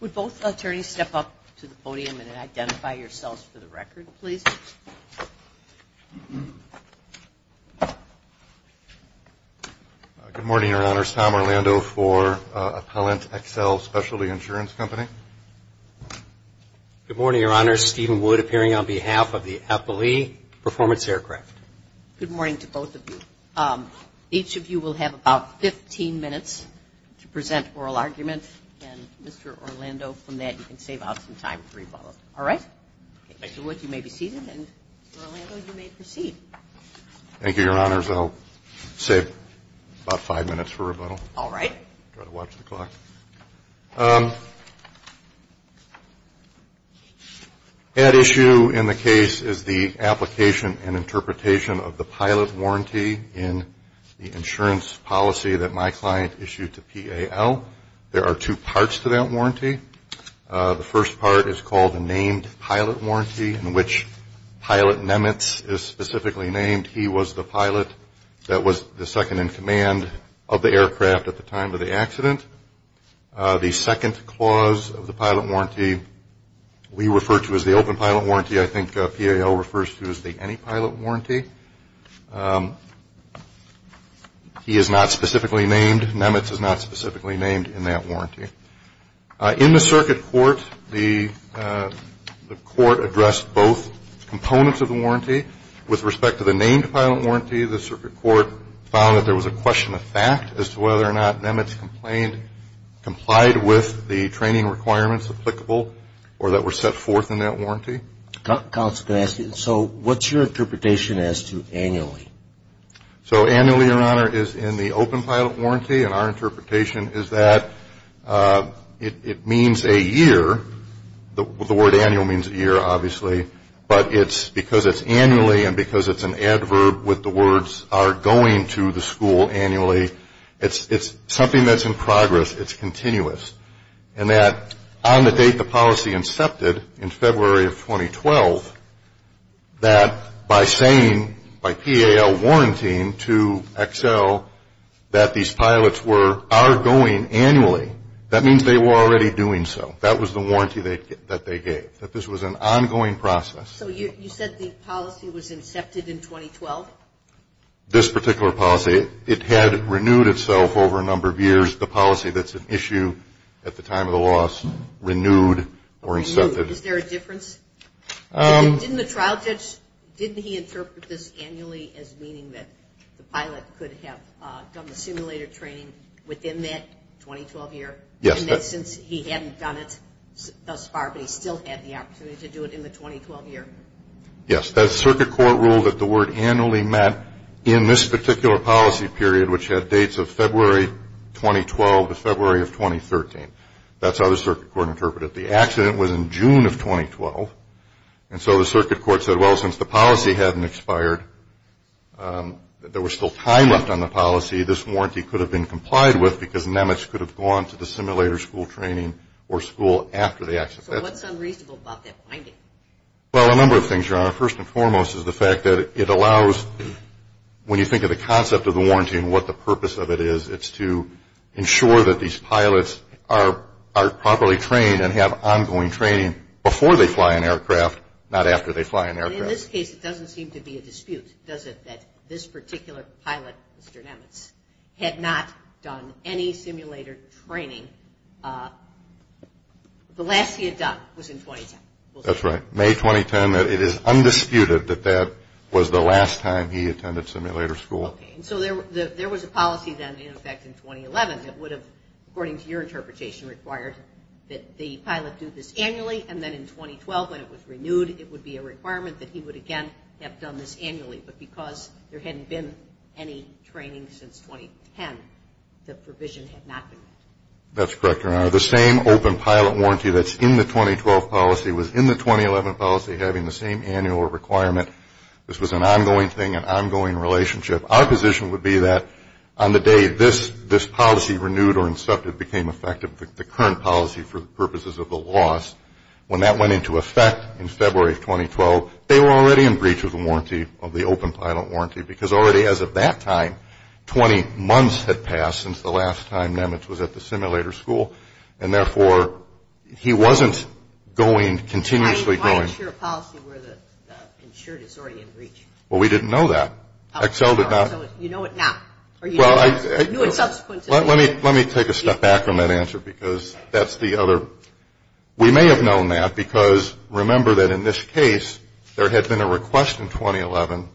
Would both attorneys step up to the podium and identify yourselves for the record, please? Good morning, Your Honors. Tom Orlando for Appellant XL Specialty Insurance Company. Good morning, Your Honors. Stephen Wood appearing on behalf of the Appellee Performance Aircraft. Good morning to both of you. Each of you will have about 15 minutes to present oral argument, and Mr. Orlando, from that, you can save out some time for rebuttal. All right? Thank you. Mr. Wood, you may be seated, and Mr. Orlando, you may proceed. Thank you, Your Honors. I'll save about five minutes for rebuttal. All right. Try to watch the clock. At issue in the case is the application and interpretation of the pilot warranty in the insurance policy that my client issued to PAL. There are two parts to that warranty. The first part is called the Named Pilot Warranty, in which Pilot Nemitz is specifically named. He was the pilot that was the second in command of the aircraft at the time of the accident. The second clause of the pilot warranty we refer to as the Open Pilot Warranty. I think PAL refers to as the Any Pilot Warranty. He is not specifically named. Nemitz is not specifically named in that warranty. In the circuit court, the court addressed both components of the warranty. With respect to the Named Pilot Warranty, the circuit court found that there was a question of fact as to whether or not Nemitz complied with the training requirements applicable or that were set forth in that warranty. Counsel, can I ask you, so what's your interpretation as to annually? So annually, Your Honor, is in the Open Pilot Warranty, and our interpretation is that it means a year. The word annual means a year, obviously, but it's because it's annually and because it's an adverb with the words are going to the school annually. It's something that's in progress. It's continuous. And that on the date the policy incepted in February of 2012, that by saying, by PAL warranting to Excel that these pilots are going annually, that means they were already doing so. That was the warranty that they gave, that this was an ongoing process. So you said the policy was incepted in 2012? This particular policy, it had renewed itself over a number of years. The policy that's at issue at the time of the loss renewed or incepted. Is there a difference? Didn't the trial judge, didn't he interpret this annually as meaning that the pilot could have done the simulated training within that 2012 year? Yes. And that since he hadn't done it thus far, but he still had the opportunity to do it in the 2012 year? Yes. That's circuit court rule that the word annually meant in this particular policy period, which had dates of February 2012 to February of 2013. That's how the circuit court interpreted it. The accident was in June of 2012. And so the circuit court said, well, since the policy hadn't expired, there was still time left on the policy, this warranty could have been complied with because NEMETS could have gone to the simulator school training or school after the accident. So what's unreasonable about that finding? Well, a number of things, Your Honor. First and foremost is the fact that it allows, when you think of the concept of the warranty and what the purpose of it is, it's to ensure that these pilots are properly trained and have ongoing training before they fly an aircraft, not after they fly an aircraft. Well, in this case, it doesn't seem to be a dispute, does it, that this particular pilot, Mr. NEMETS, had not done any simulator training. The last he had done was in 2010. That's right. May 2010. It is undisputed that that was the last time he attended simulator school. Okay. And so there was a policy then in effect in 2011 that would have, according to your interpretation, required that the pilot do this annually, and then in 2012, when it was renewed, it would be a requirement that he would again have done this annually. But because there hadn't been any training since 2010, the provision had not been met. That's correct, Your Honor. The same open pilot warranty that's in the 2012 policy was in the 2011 policy, having the same annual requirement. This was an ongoing thing, an ongoing relationship. Our position would be that on the day this policy, renewed or incepted, became effective, the current policy for the purposes of the laws, when that went into effect in February of 2012, they were already in breach of the warranty, of the open pilot warranty, because already as of that time, 20 months had passed since the last time NEMETS was at the simulator school, and therefore he wasn't going, continuously going. Why is your policy where the insured is already in breach? Well, we didn't know that. Excel did not. So you know it now, or you knew it subsequently. Let me take a step back on that answer, because that's the other. We may have known that, because remember that in this case, there had been a request in 2011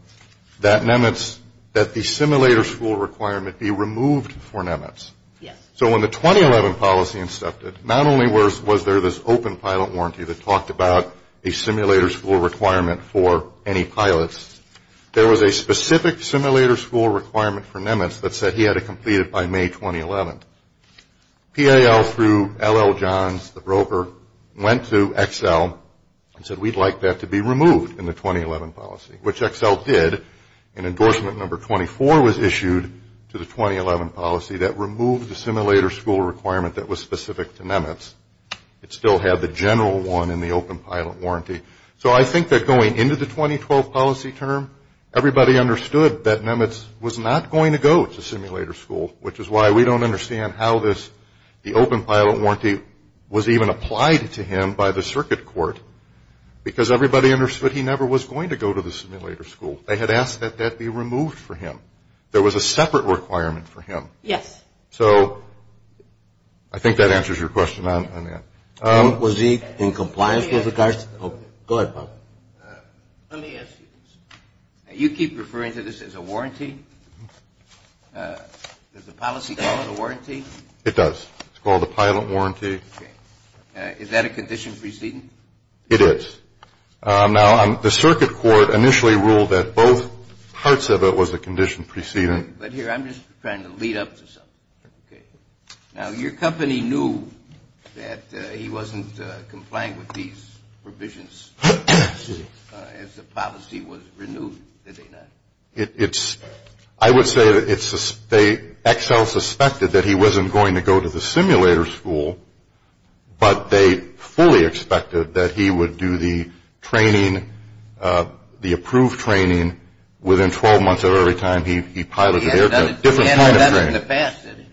that NEMETS, that the simulator school requirement be removed for NEMETS. Yes. So when the 2011 policy incepted, not only was there this open pilot warranty that talked about a simulator school requirement for any pilots, there was a specific simulator school requirement for NEMETS that said he had to complete it by May 2011. PAL through L.L. Johns, the broker, went to Excel and said, we'd like that to be removed in the 2011 policy, which Excel did, and endorsement number 24 was issued to the 2011 policy that removed the simulator school requirement that was specific to NEMETS. It still had the general one in the open pilot warranty. So I think that going into the 2012 policy term, everybody understood that NEMETS was not going to go to simulator school, which is why we don't understand how this, the open pilot warranty, was even applied to him by the circuit court, because everybody understood he never was going to go to the simulator school. They had asked that that be removed for him. There was a separate requirement for him. Yes. So I think that answers your question on that. Was he in compliance with the cards? Go ahead, Bob. Let me ask you this. You keep referring to this as a warranty. Does the policy call it a warranty? It does. It's called a pilot warranty. Okay. Is that a condition preceding? It is. Now, the circuit court initially ruled that both parts of it was a condition preceding. But here, I'm just trying to lead up to something. Okay. Now, your company knew that he wasn't complying with these provisions as the policy was renewed, did they not? I would say that Excel suspected that he wasn't going to go to the simulator school, but they fully expected that he would do the training, the approved training, within 12 months of every time he piloted an airplane, a different kind of training. In the past, did he?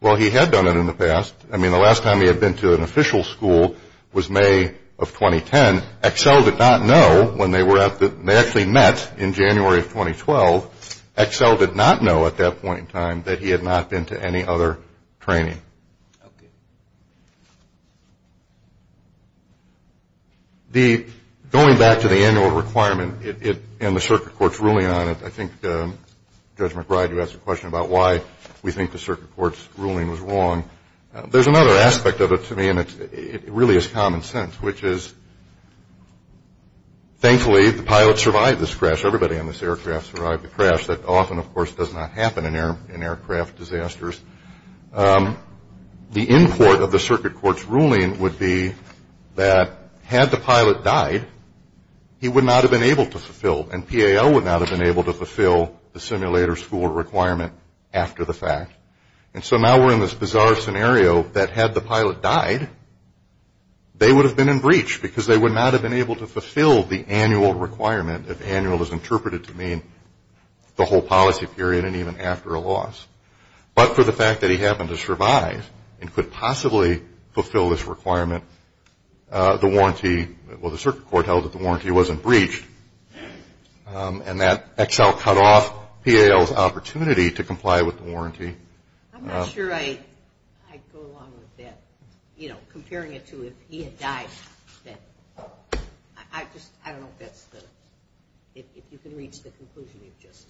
Well, he had done it in the past. I mean, the last time he had been to an official school was May of 2010. Excel did not know when they were at the ñ they actually met in January of 2012. Excel did not know at that point in time that he had not been to any other training. Okay. Going back to the annual requirement and the circuit court's ruling on it, I think Judge McBride, you asked a question about why we think the circuit court's ruling was wrong. There's another aspect of it to me, and it really is common sense, which is thankfully the pilot survived this crash. Everybody on this aircraft survived the crash. That often, of course, does not happen in aircraft disasters. The import of the circuit court's ruling would be that had the pilot died, he would not have been able to fulfill, and PAO would not have been able to fulfill the simulator school requirement after the fact. And so now we're in this bizarre scenario that had the pilot died, they would have been in breach because they would not have been able to fulfill the annual requirement, if annual is interpreted to mean the whole policy period and even after a loss. But for the fact that he happened to survive and could possibly fulfill this requirement, the warranty, well, the circuit court held that the warranty wasn't breached, and that XL cut off PAO's opportunity to comply with the warranty. I'm not sure I'd go along with that, you know, comparing it to if he had died. I just, I don't know if that's the, if you can reach the conclusion you've just.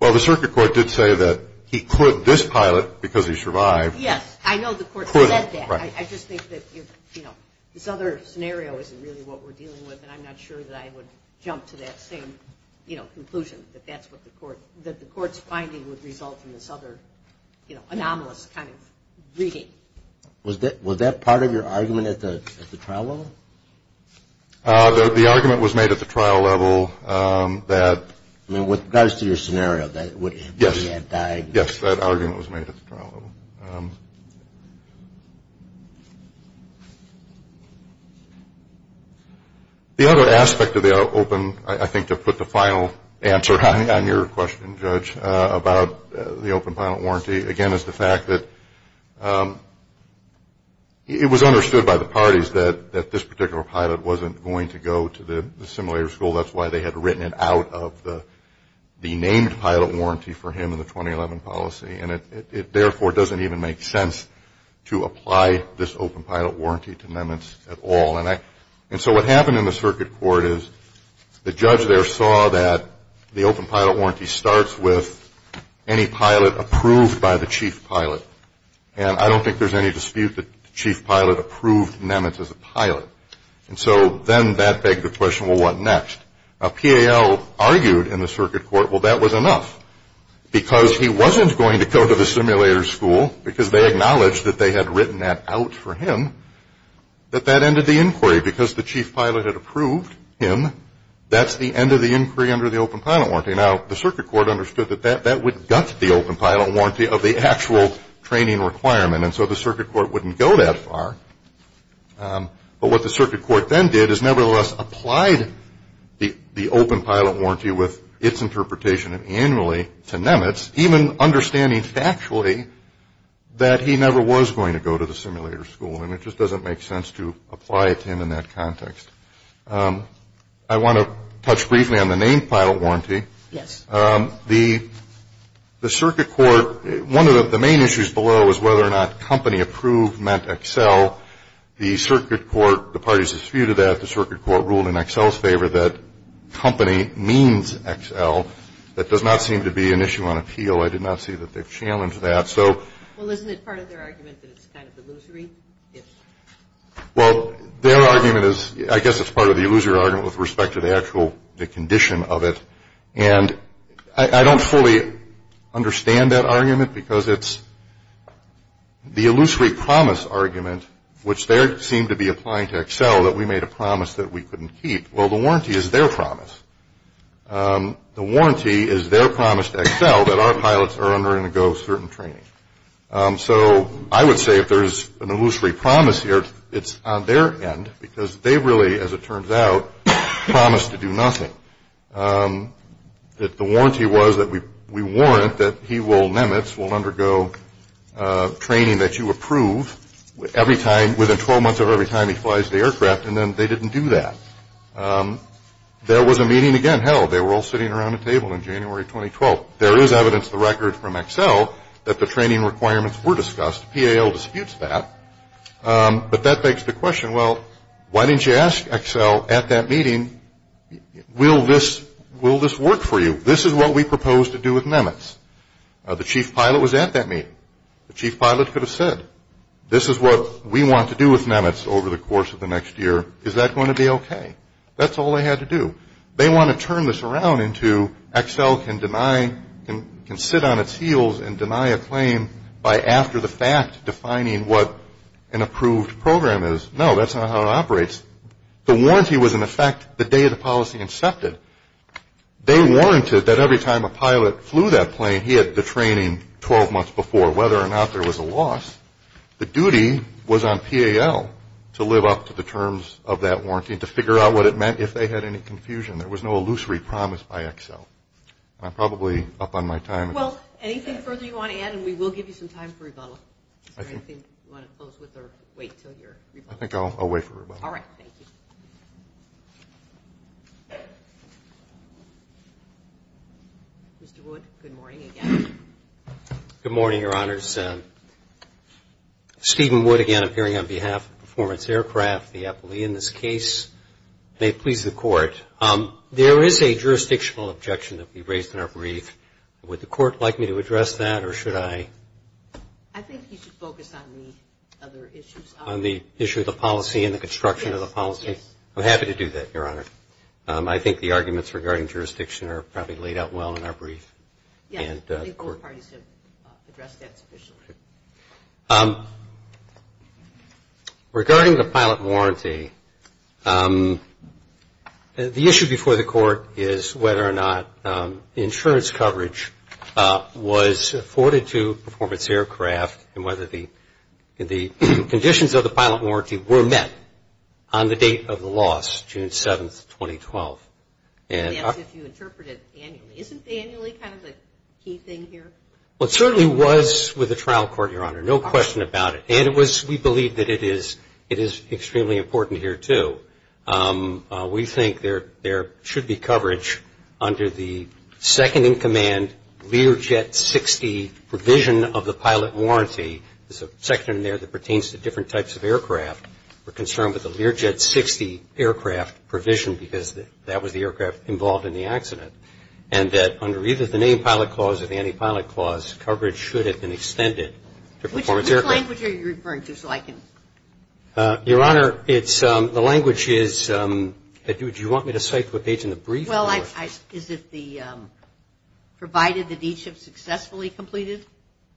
Well, the circuit court did say that he could, this pilot, because he survived. Yes, I know the court said that. I just think that, you know, this other scenario isn't really what we're dealing with, and I'm not sure that I would jump to that same, you know, conclusion, that that's what the court, that the court's finding would result in this other, you know, anomalous kind of reading. Was that part of your argument at the trial level? The argument was made at the trial level that. I mean, with regards to your scenario, that he had died. Yes, that argument was made at the trial level. The other aspect of the open, I think, to put the final answer on your question, Judge, about the open pilot warranty, again, is the fact that it was understood by the parties that this particular pilot wasn't going to go to the simulator school. That's why they had written it out of the named pilot warranty for him in the 2011 policy. And it, therefore, doesn't even make sense to apply this open pilot warranty to Nemitz at all. And so what happened in the circuit court is the judge there saw that the open pilot warranty starts with any pilot approved by the chief pilot. And I don't think there's any dispute that the chief pilot approved Nemitz as a pilot. And so then that begs the question, well, what next? Now, PAL argued in the circuit court, well, that was enough, because he wasn't going to go to the simulator school, because they acknowledged that they had written that out for him, that that ended the inquiry. Because the chief pilot had approved him, that's the end of the inquiry under the open pilot warranty. Now, the circuit court understood that that would gut the open pilot warranty of the actual training requirement. And so the circuit court wouldn't go that far. But what the circuit court then did is, nevertheless, applied the open pilot warranty with its interpretation annually to Nemitz, even understanding factually that he never was going to go to the simulator school. And it just doesn't make sense to apply it to him in that context. I want to touch briefly on the named pilot warranty. Yes. The circuit court, one of the main issues below is whether or not company approved meant Excel. The circuit court, the parties disputed that. The circuit court ruled in Excel's favor that company means Excel. That does not seem to be an issue on appeal. I did not see that they challenged that. Well, isn't it part of their argument that it's kind of illusory? Well, their argument is, I guess it's part of the illusory argument with respect to the actual condition of it. And I don't fully understand that argument because it's the illusory promise argument, which they seem to be applying to Excel that we made a promise that we couldn't keep. Well, the warranty is their promise. The warranty is their promise to Excel that our pilots are under and go certain training. So I would say if there's an illusory promise here, it's on their end, because they really, as it turns out, promised to do nothing. The warranty was that we warrant that he will, Nemitz, will undergo training that you approve every time, within 12 months of every time he flies the aircraft, and then they didn't do that. There was a meeting again held. They were all sitting around a table in January 2012. There is evidence to the record from Excel that the training requirements were discussed. PAL disputes that. But that begs the question, well, why didn't you ask Excel at that meeting, will this work for you? This is what we proposed to do with Nemitz. The chief pilot was at that meeting. The chief pilot could have said, this is what we want to do with Nemitz over the course of the next year. Is that going to be okay? That's all they had to do. They want to turn this around into Excel can deny, can sit on its heels and deny a claim by after the fact defining what an approved program is. No, that's not how it operates. The warranty was in effect the day the policy incepted. They warranted that every time a pilot flew that plane, he had the training 12 months before. Whether or not there was a loss, the duty was on PAL to live up to the terms of that warranty, to figure out what it meant, if they had any confusion. There was no illusory promise by Excel. I'm probably up on my time. Well, anything further you want to add, and we will give you some time for rebuttal. Is there anything you want to close with or wait until your rebuttal? I think I'll wait for rebuttal. All right. Thank you. Mr. Wood, good morning again. Good morning, Your Honors. Steven Wood again, appearing on behalf of Performance Aircraft, the appellee in this case. May it please the Court. There is a jurisdictional objection that we raised in our brief. Would the Court like me to address that, or should I? I think you should focus on the other issues. On the issue of the policy and the construction of the policy? Yes, yes. I'm happy to do that, Your Honor. I think the arguments regarding jurisdiction are probably laid out well in our brief. Yes, I think both parties have addressed that sufficiently. Regarding the pilot warranty, the issue before the Court is whether or not insurance coverage was afforded to Performance Aircraft and whether the conditions of the pilot warranty were met on the date of the loss, June 7, 2012. Yes, if you interpret it annually. Isn't annually kind of the key thing here? Well, it certainly was with the trial court, Your Honor, no question about it. And it was, we believe that it is extremely important here, too. We think there should be coverage under the second-in-command Lear Jet 60 provision of the pilot warranty. There's a section in there that pertains to different types of aircraft. We're concerned with the Lear Jet 60 aircraft provision because that was the aircraft involved in the accident. And that under either the named pilot clause or the anti-pilot clause, coverage should have been extended to Performance Aircraft. Which language are you referring to so I can? Your Honor, it's, the language is, do you want me to cite to a page in the brief? Well, is it the provided that each have successfully completed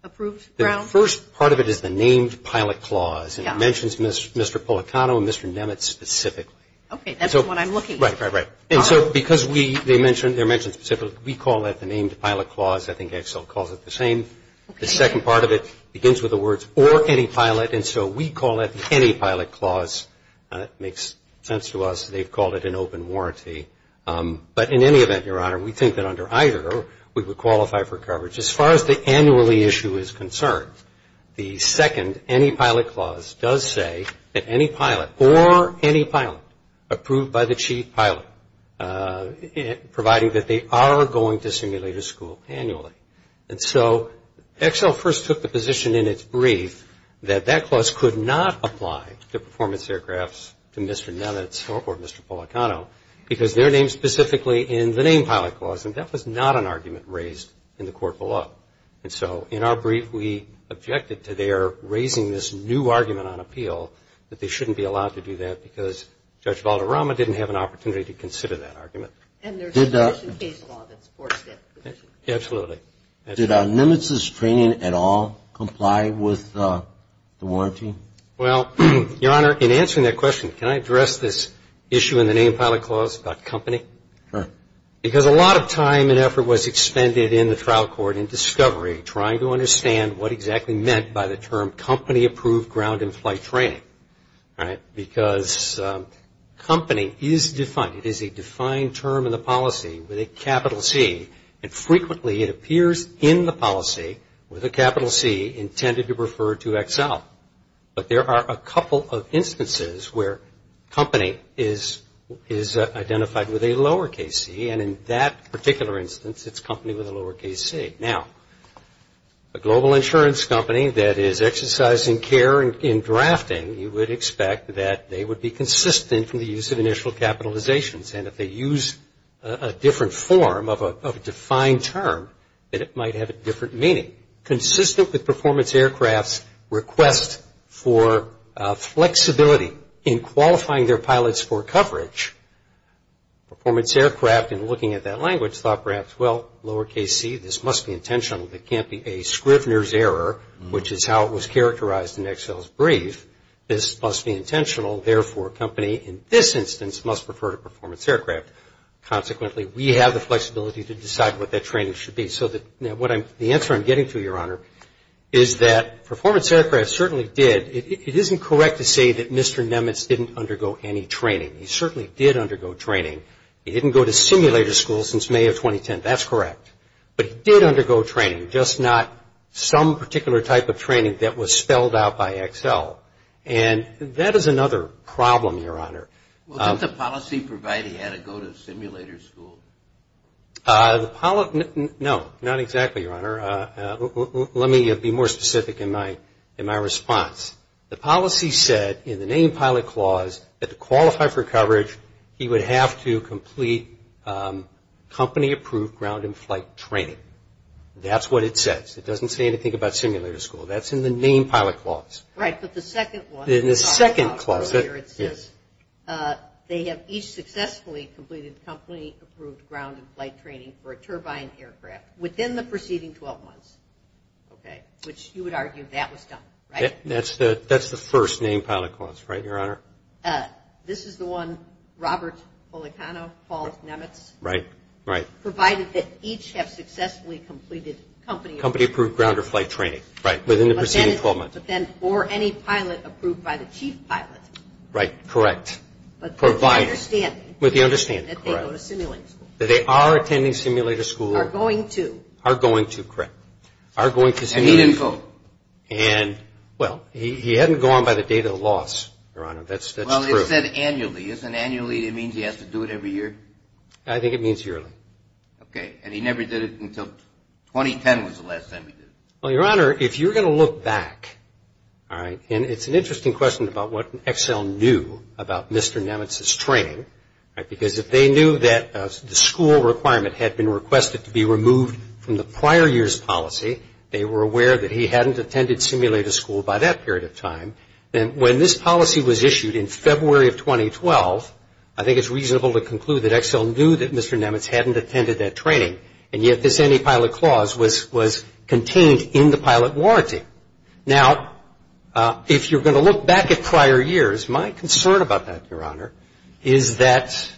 approved ground? The first part of it is the named pilot clause. Yeah. And it mentions Mr. Policano and Mr. Nemitz specifically. Okay, that's what I'm looking for. Right, right, right. And so because we, they mention, they're mentioned specifically, we call that the named pilot clause. I think Excel calls it the same. The second part of it begins with the words or anti-pilot. And so we call that the anti-pilot clause. It makes sense to us. They've called it an open warranty. But in any event, Your Honor, we think that under either we would qualify for coverage. As far as the annually issue is concerned, the second anti-pilot clause does say that any pilot or any pilot approved by the chief pilot, providing that they are going to simulated school annually. And so Excel first took the position in its brief that that clause could not apply to performance aircrafts, to Mr. Nemitz or Mr. Policano, because they're named specifically in the named pilot clause. And that was not an argument raised in the court below. And so in our brief, we objected to their raising this new argument on appeal, that they shouldn't be allowed to do that, because Judge Valderrama didn't have an opportunity to consider that argument. And there's a petition case law that supports that position. Absolutely. Did Nemitz's training at all comply with the warranty? Well, Your Honor, in answering that question, can I address this issue in the named pilot clause about company? Sure. Because a lot of time and effort was expended in the trial court in discovery, trying to understand what exactly meant by the term company approved ground and flight training. Because company is defined. It is a defined term in the policy with a capital C. And frequently it appears in the policy with a capital C intended to refer to Excel. But there are a couple of instances where company is identified with a lower case C. And in that particular instance, it's company with a lower case C. Now, a global insurance company that is exercising care in drafting, you would expect that they would be consistent from the use of initial capitalizations. And if they use a different form of a defined term, then it might have a different meaning. Consistent with performance aircraft's request for flexibility in qualifying their pilots for coverage, performance aircraft in looking at that language thought perhaps, well, lower case C, this must be intentional. It can't be a Scrivener's error, which is how it was characterized in Excel's brief. This must be intentional. Therefore, a company in this instance must refer to performance aircraft. Consequently, we have the flexibility to decide what that training should be. The answer I'm getting to, Your Honor, is that performance aircraft certainly did. It isn't correct to say that Mr. Nemitz didn't undergo any training. He certainly did undergo training. He didn't go to simulator school since May of 2010. That's correct. But he did undergo training, just not some particular type of training that was spelled out by Excel. And that is another problem, Your Honor. Well, didn't the policy provide he had to go to simulator school? No, not exactly, Your Honor. Let me be more specific in my response. The policy said in the name pilot clause that to qualify for coverage, he would have to complete company-approved ground and flight training. That's what it says. It doesn't say anything about simulator school. That's in the name pilot clause. Right, but the second one. In the second clause, yes. They have each successfully completed company-approved ground and flight training for a turbine aircraft within the preceding 12 months, okay, which you would argue that was done, right? That's the first name pilot clause, right, Your Honor? This is the one Robert Policano called Nemitz. Right, right. Provided that each have successfully completed company- Company-approved ground or flight training, right, within the preceding 12 months. But then for any pilot approved by the chief pilot. Right, correct. Provided. With the understanding. With the understanding, correct. That they go to simulator school. That they are attending simulator school. Are going to. Are going to, correct. Are going to simulator school. And need info. And, well, he hadn't gone by the date of the loss, Your Honor. That's true. Well, it said annually. Isn't annually, it means he has to do it every year? I think it means yearly. Okay, and he never did it until 2010 was the last time he did it. Well, Your Honor, if you're going to look back, all right, and it's an interesting question about what Excel knew about Mr. Nemitz's training. Because if they knew that the school requirement had been requested to be removed from the prior year's policy, they were aware that he hadn't attended simulator school by that period of time. And when this policy was issued in February of 2012, I think it's reasonable to conclude that Excel knew that Mr. Nemitz hadn't attended that training. And yet this antipilot clause was contained in the pilot warranty. Now, if you're going to look back at prior years, my concern about that, Your Honor, is that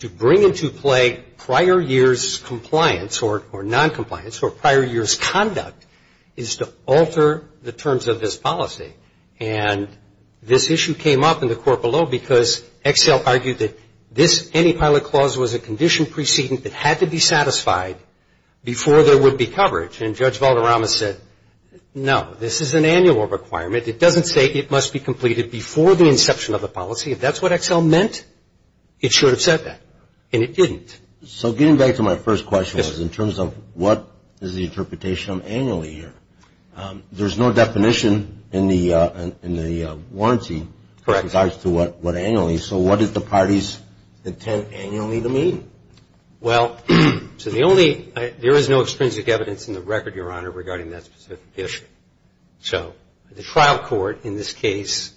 to bring into play prior year's compliance, or noncompliance, or prior year's conduct is to alter the terms of this policy. And this issue came up in the court below because Excel argued that this antipilot clause was a condition precedent that had to be satisfied before there would be coverage. And Judge Valderrama said, no, this is an annual requirement. It doesn't say it must be completed before the inception of the policy. If that's what Excel meant, it should have said that. And it didn't. So getting back to my first question was in terms of what is the interpretation of annually here. There's no definition in the warranty in regards to what annually is. So what did the parties intend annually to mean? Well, there is no extrinsic evidence in the record, Your Honor, regarding that specific issue. So the trial court in this case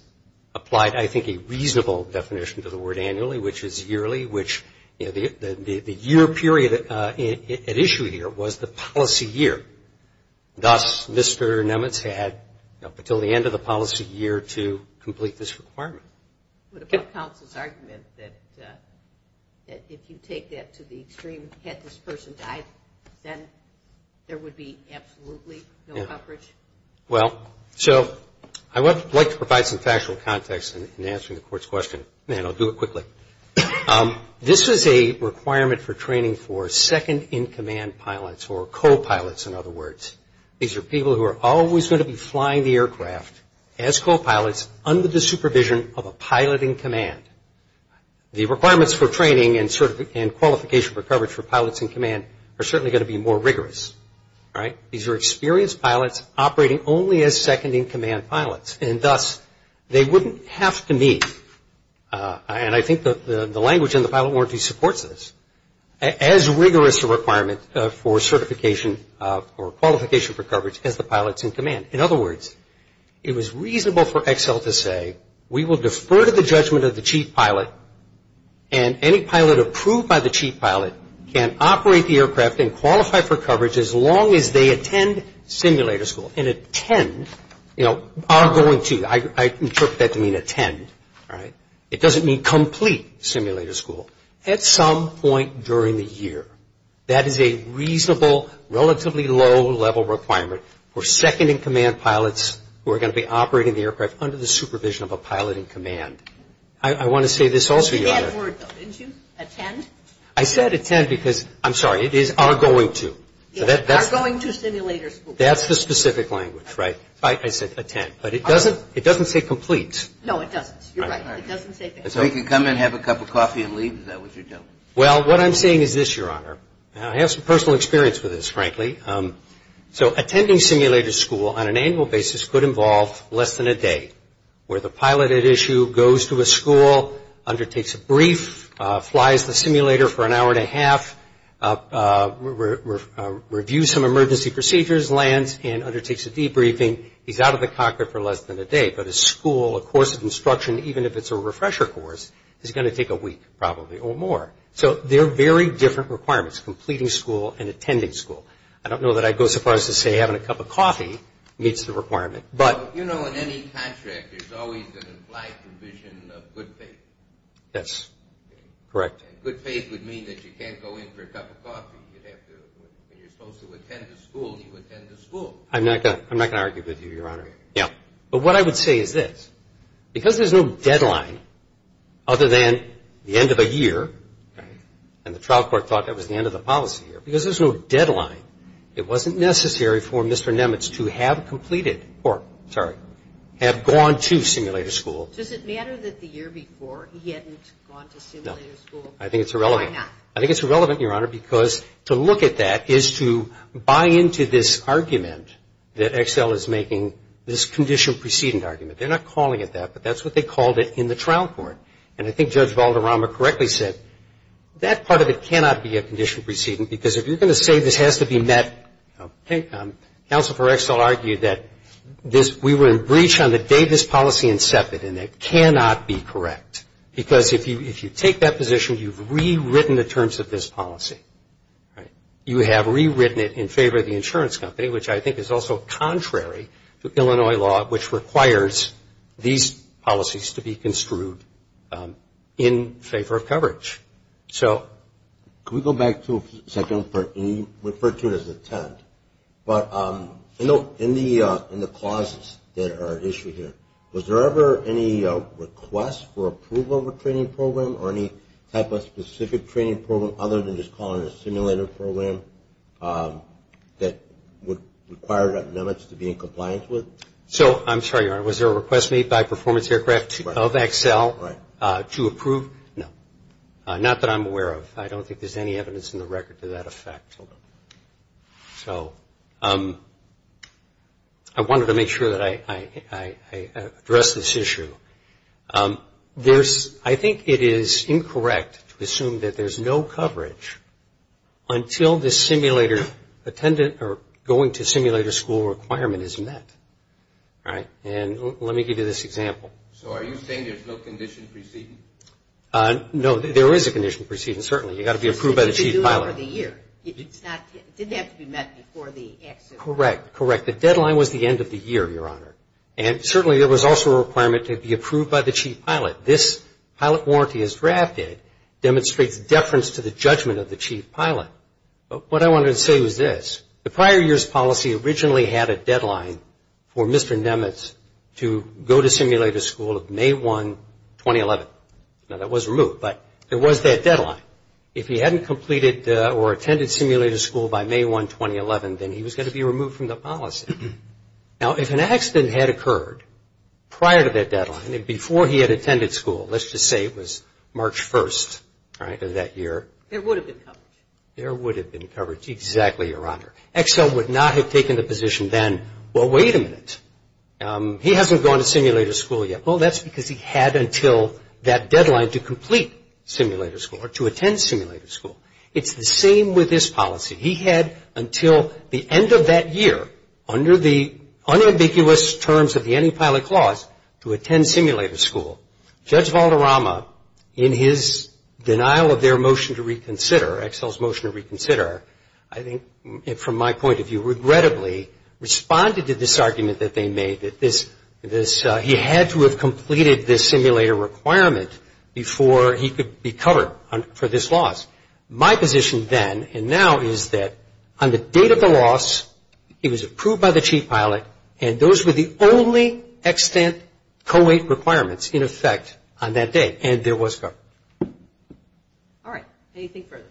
applied, I think, a reasonable definition to the word annually, which is yearly, which the year period at issue here was the policy year. Thus, Mr. Nemitz had up until the end of the policy year to complete this requirement. What about counsel's argument that if you take that to the extreme, had this person died, then there would be absolutely no coverage? Well, so I would like to provide some factual context in answering the court's question, and I'll do it quickly. This is a requirement for training for second-in-command pilots, or co-pilots, in other words. These are people who are always going to be flying the aircraft as co-pilots under the supervision of a pilot-in-command. The requirements for training and qualification for coverage for pilots-in-command are certainly going to be more rigorous. All right? These are experienced pilots operating only as second-in-command pilots, and thus they wouldn't have to meet. And I think the language in the pilot warranty supports this. As rigorous a requirement for certification or qualification for coverage as the pilots-in-command. In other words, it was reasonable for Excel to say, we will defer to the judgment of the chief pilot, and any pilot approved by the chief pilot can operate the aircraft and qualify for coverage as long as they attend simulator school. You know, are going to. I interpret that to mean attend. All right? It doesn't mean complete simulator school. At some point during the year, that is a reasonable, relatively low-level requirement for second-in-command pilots who are going to be operating the aircraft under the supervision of a pilot-in-command. I want to say this also, Your Honor. You said that word, though, didn't you? Attend? I said attend because, I'm sorry, it is are going to. Are going to simulator school. That's the specific language, right? I said attend. But it doesn't say complete. No, it doesn't. You're right. It doesn't say complete. So he can come and have a cup of coffee and leave? Is that what you're telling me? Well, what I'm saying is this, Your Honor. I have some personal experience with this, frankly. So attending simulator school on an annual basis could involve less than a day, where the pilot at issue goes to a school, undertakes a brief, flies the simulator for an hour and a half, reviews some emergency procedures, lands, and undertakes a debriefing. He's out of the cockpit for less than a day. But a school, a course of instruction, even if it's a refresher course, is going to take a week probably or more. So they're very different requirements, completing school and attending school. I don't know that I'd go so far as to say having a cup of coffee meets the requirement. But you know in any contract, there's always an implied provision of good faith. That's correct. And good faith would mean that you can't go in for a cup of coffee. You'd have to, when you're supposed to attend a school, you attend a school. I'm not going to argue with you, Your Honor. Yeah. But what I would say is this, because there's no deadline other than the end of a year, and the trial court thought that was the end of the policy year, because there's no deadline, it wasn't necessary for Mr. Nemitz to have completed or, sorry, have gone to simulator school. Does it matter that the year before he hadn't gone to simulator school? No. I think it's irrelevant. Why not? I think it's irrelevant, Your Honor, because to look at that is to buy into this argument that Excel is making, this condition precedent argument. They're not calling it that, but that's what they called it in the trial court. And I think Judge Valderrama correctly said that part of it cannot be a condition precedent, because if you're going to say this has to be met, counsel for Excel argued that we were in breach on the day this policy incepted, and it cannot be correct, because if you take that position, you've rewritten the terms of this policy. You have rewritten it in favor of the insurance company, which I think is also contrary to Illinois law, which requires these policies to be construed in favor of coverage. Can we go back to a second part? You referred to it as attempt, but in the clauses that are issued here, was there ever any request for approval of a training program or any type of specific training program other than just calling it a simulator program that would require that limits to be in compliance with? So, I'm sorry, Your Honor, was there a request made by Performance Aircraft of Excel to approve? No. Not that I'm aware of. I don't think there's any evidence in the record to that effect. So, I wanted to make sure that I addressed this issue. I think it is incorrect to assume that there's no coverage until the simulator attendant or going to simulator school requirement is met. And let me give you this example. So, are you saying there's no condition preceding? No, there is a condition preceding, certainly. You've got to be approved by the chief pilot. It's due over the year. It didn't have to be met before the accident. Correct, correct. The deadline was the end of the year, Your Honor. And certainly, there was also a requirement to be approved by the chief pilot. This pilot warranty as drafted demonstrates deference to the judgment of the chief pilot. But what I wanted to say was this. The prior year's policy originally had a deadline for Mr. Nemitz to go to simulator school of May 1, 2011. Now, that was removed, but there was that deadline. If he hadn't completed or attended simulator school by May 1, 2011, then he was going to be removed from the policy. Now, if an accident had occurred prior to that deadline, before he had attended school, let's just say it was March 1st of that year. There would have been coverage. Exactly, Your Honor. Excel would not have taken the position then, well, wait a minute. He hasn't gone to simulator school yet. Well, that's because he had until that deadline to complete simulator school or to attend simulator school. It's the same with this policy. He had until the end of that year, under the unambiguous terms of the antipilot clause, to attend simulator school. Judge Valderrama, in his denial of their motion to reconsider, Excel's motion to reconsider, I think from my point of view, regrettably responded to this argument that they made, that he had to have completed this simulator requirement before he could be covered for this loss. My position then and now is that on the date of the loss, he was approved by the chief pilot, and those were the only extant co-wait requirements in effect on that day, and there was coverage. All right. Anything further?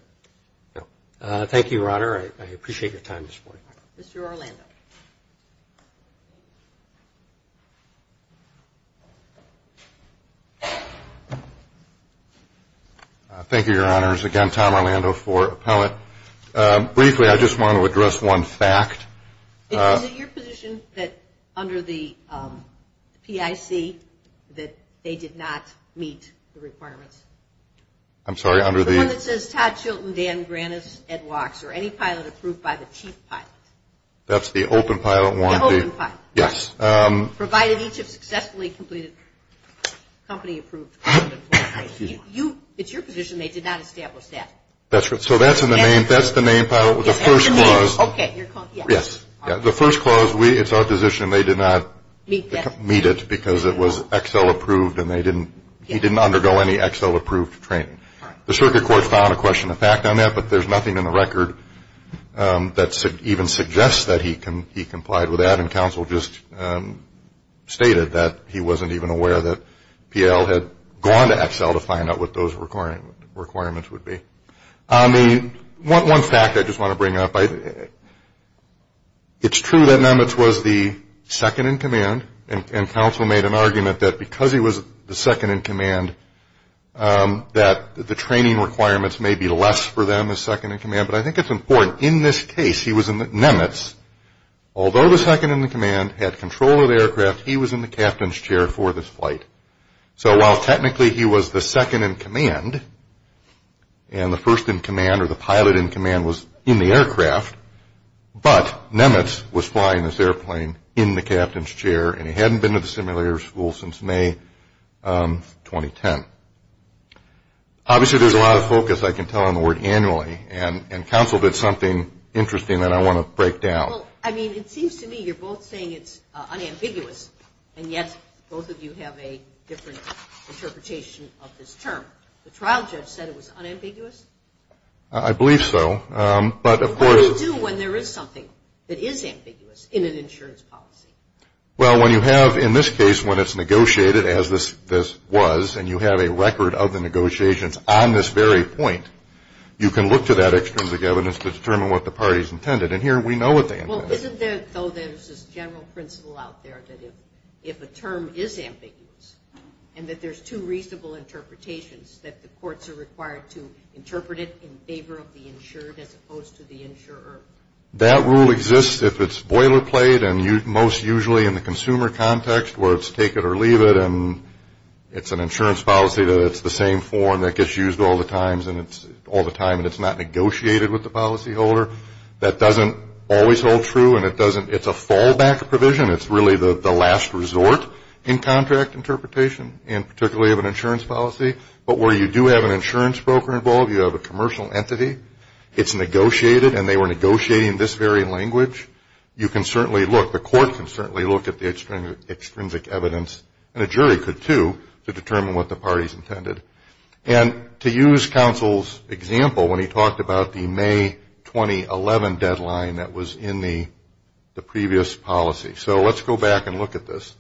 No. Thank you, Your Honor. I appreciate your time this morning. Mr. Orlando. Thank you, Your Honors. Again, Tom Orlando for appellate. Briefly, I just want to address one fact. Is it your position that under the PIC that they did not meet the requirements? I'm sorry, under the? The one that says Todd Chilton, Dan Grannis, Ed Wachs, or any pilot approved by the chief pilot. That's the open pilot one? The open pilot. Yes. Provided each have successfully completed company approved. It's your position they did not establish that? So that's the main pilot with the first clause. Okay. Yes. The first clause, it's our position they did not meet it because it was Excel approved and he didn't undergo any Excel approved training. The circuit court found a question of fact on that, but there's nothing in the record that even suggests that he complied with that, and counsel just stated that he wasn't even aware that PL had gone to Excel to find out what those requirements would be. One fact I just want to bring up. It's true that Nemitz was the second in command, and counsel made an argument that because he was the second in command that the training requirements may be less for them as second in command, but I think it's important. In this case, he was in Nemitz. Although the second in command had control of the aircraft, he was in the captain's chair for this flight. So while technically he was the second in command, and the first in command or the pilot in command was in the aircraft, but Nemitz was flying this airplane in the captain's chair, and he hadn't been to the simulator school since May 2010. Obviously, there's a lot of focus I can tell on the word annually, and counsel did something interesting that I want to break down. Well, I mean, it seems to me you're both saying it's unambiguous, and yet both of you have a different interpretation of this term. The trial judge said it was unambiguous? I believe so. What do you do when there is something that is ambiguous in an insurance policy? Well, when you have, in this case, when it's negotiated as this was, and you have a record of the negotiations on this very point, you can look to that extrinsic evidence to determine what the party's intended, and here we know what they intended. Well, isn't there, though, there's this general principle out there that if a term is ambiguous and that there's two reasonable interpretations, that the courts are required to interpret it in favor of the insured as opposed to the insurer? That rule exists if it's boilerplate and most usually in the consumer context where it's take it or leave it and it's an insurance policy that it's the same form that gets used all the time, and it's not negotiated with the policyholder. That doesn't always hold true, and it's a fallback provision. It's really the last resort in contract interpretation, and particularly of an insurance policy, but where you do have an insurance broker involved, you have a commercial entity. It's negotiated, and they were negotiating this very language. You can certainly look. The court can certainly look at the extrinsic evidence, and a jury could, too, to determine what the party's intended. And to use counsel's example when he talked about the May 2011 deadline that was in the previous policy. So let's go back and look at this.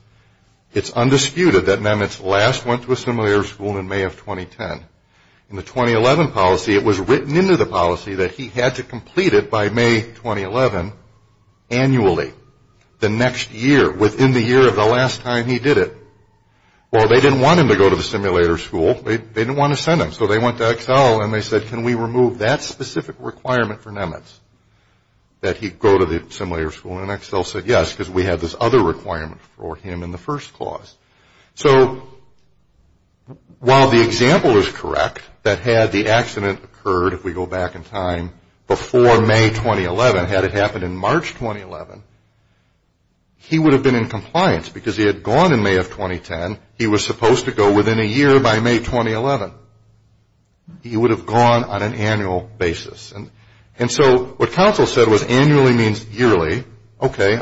It's undisputed that Nemitz last went to a simulator school in May of 2010. In the 2011 policy, it was written into the policy that he had to complete it by May 2011 annually, the next year, within the year of the last time he did it. Well, they didn't want him to go to the simulator school. They didn't want to send him, so they went to Excel, and they said, can we remove that specific requirement for Nemitz, that he go to the simulator school? And Excel said, yes, because we have this other requirement for him in the first clause. So while the example is correct, that had the accident occurred, if we go back in time, before May 2011, had it happened in March 2011, he would have been in compliance because he had gone in May of 2010. He was supposed to go within a year by May 2011. He would have gone on an annual basis. And so what counsel said was annually means yearly. Okay,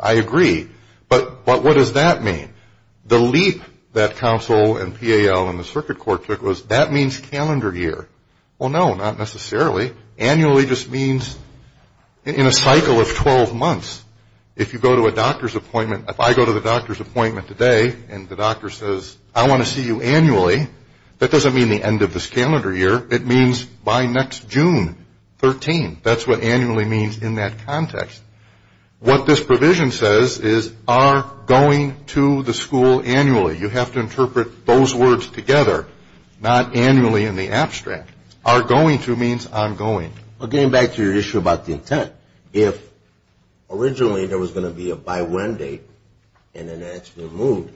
I agree. But what does that mean? The leap that counsel and PAL and the circuit court took was that means calendar year. Well, no, not necessarily. Annually just means in a cycle of 12 months. If you go to a doctor's appointment, if I go to the doctor's appointment today and the doctor says, I want to see you annually, that doesn't mean the end of this calendar year. It means by next June 13. That's what annually means in that context. What this provision says is are going to the school annually. You have to interpret those words together, not annually in the abstract. Are going to means ongoing. Well, getting back to your issue about the intent, if originally there was going to be a by when date and then that's removed,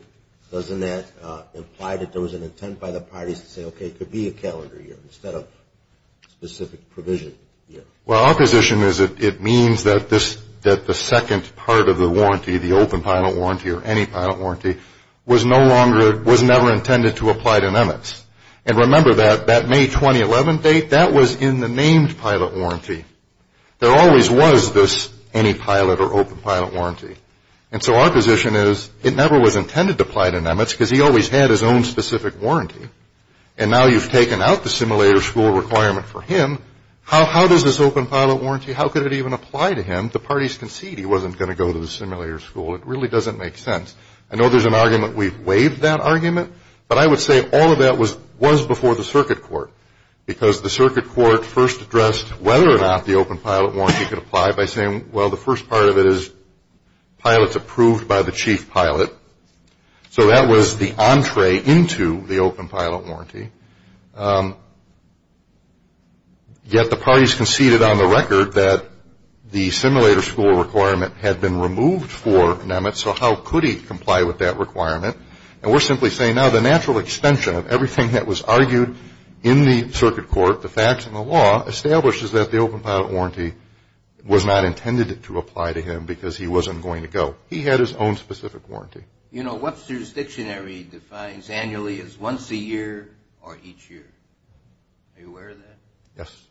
doesn't that imply that there was an intent by the parties to say, okay, it could be a calendar year instead of a specific provision year? Well, our position is it means that the second part of the warranty, the open pilot warranty or any pilot warranty, was no longer, was never intended to apply to NEMEX. And remember that that May 2011 date, that was in the named pilot warranty. There always was this any pilot or open pilot warranty. And so our position is it never was intended to apply to NEMEX because he always had his own specific warranty. And now you've taken out the simulator school requirement for him, how does this open pilot warranty, how could it even apply to him? The parties conceded he wasn't going to go to the simulator school. It really doesn't make sense. I know there's an argument we've waived that argument, but I would say all of that was before the circuit court because the circuit court first addressed whether or not the open pilot warranty could apply by saying, well, the first part of it is pilots approved by the chief pilot. So that was the entree into the open pilot warranty. Yet the parties conceded on the record that the simulator school requirement had been removed for NEMEX, so how could he comply with that requirement? And we're simply saying now the natural extension of everything that was argued in the circuit court, the facts and the law, establishes that the open pilot warranty was not intended to apply to him because he wasn't going to go. He had his own specific warranty. You know, Webster's Dictionary defines annually as once a year or each year. Are you aware of that? Yes.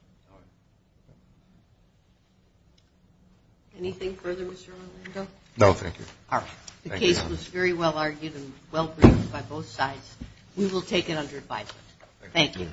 Anything further, Mr. Orlando? No, thank you. All right. The case was very well-argued and well-produced by both sides. We will take it under advisement. Thank you.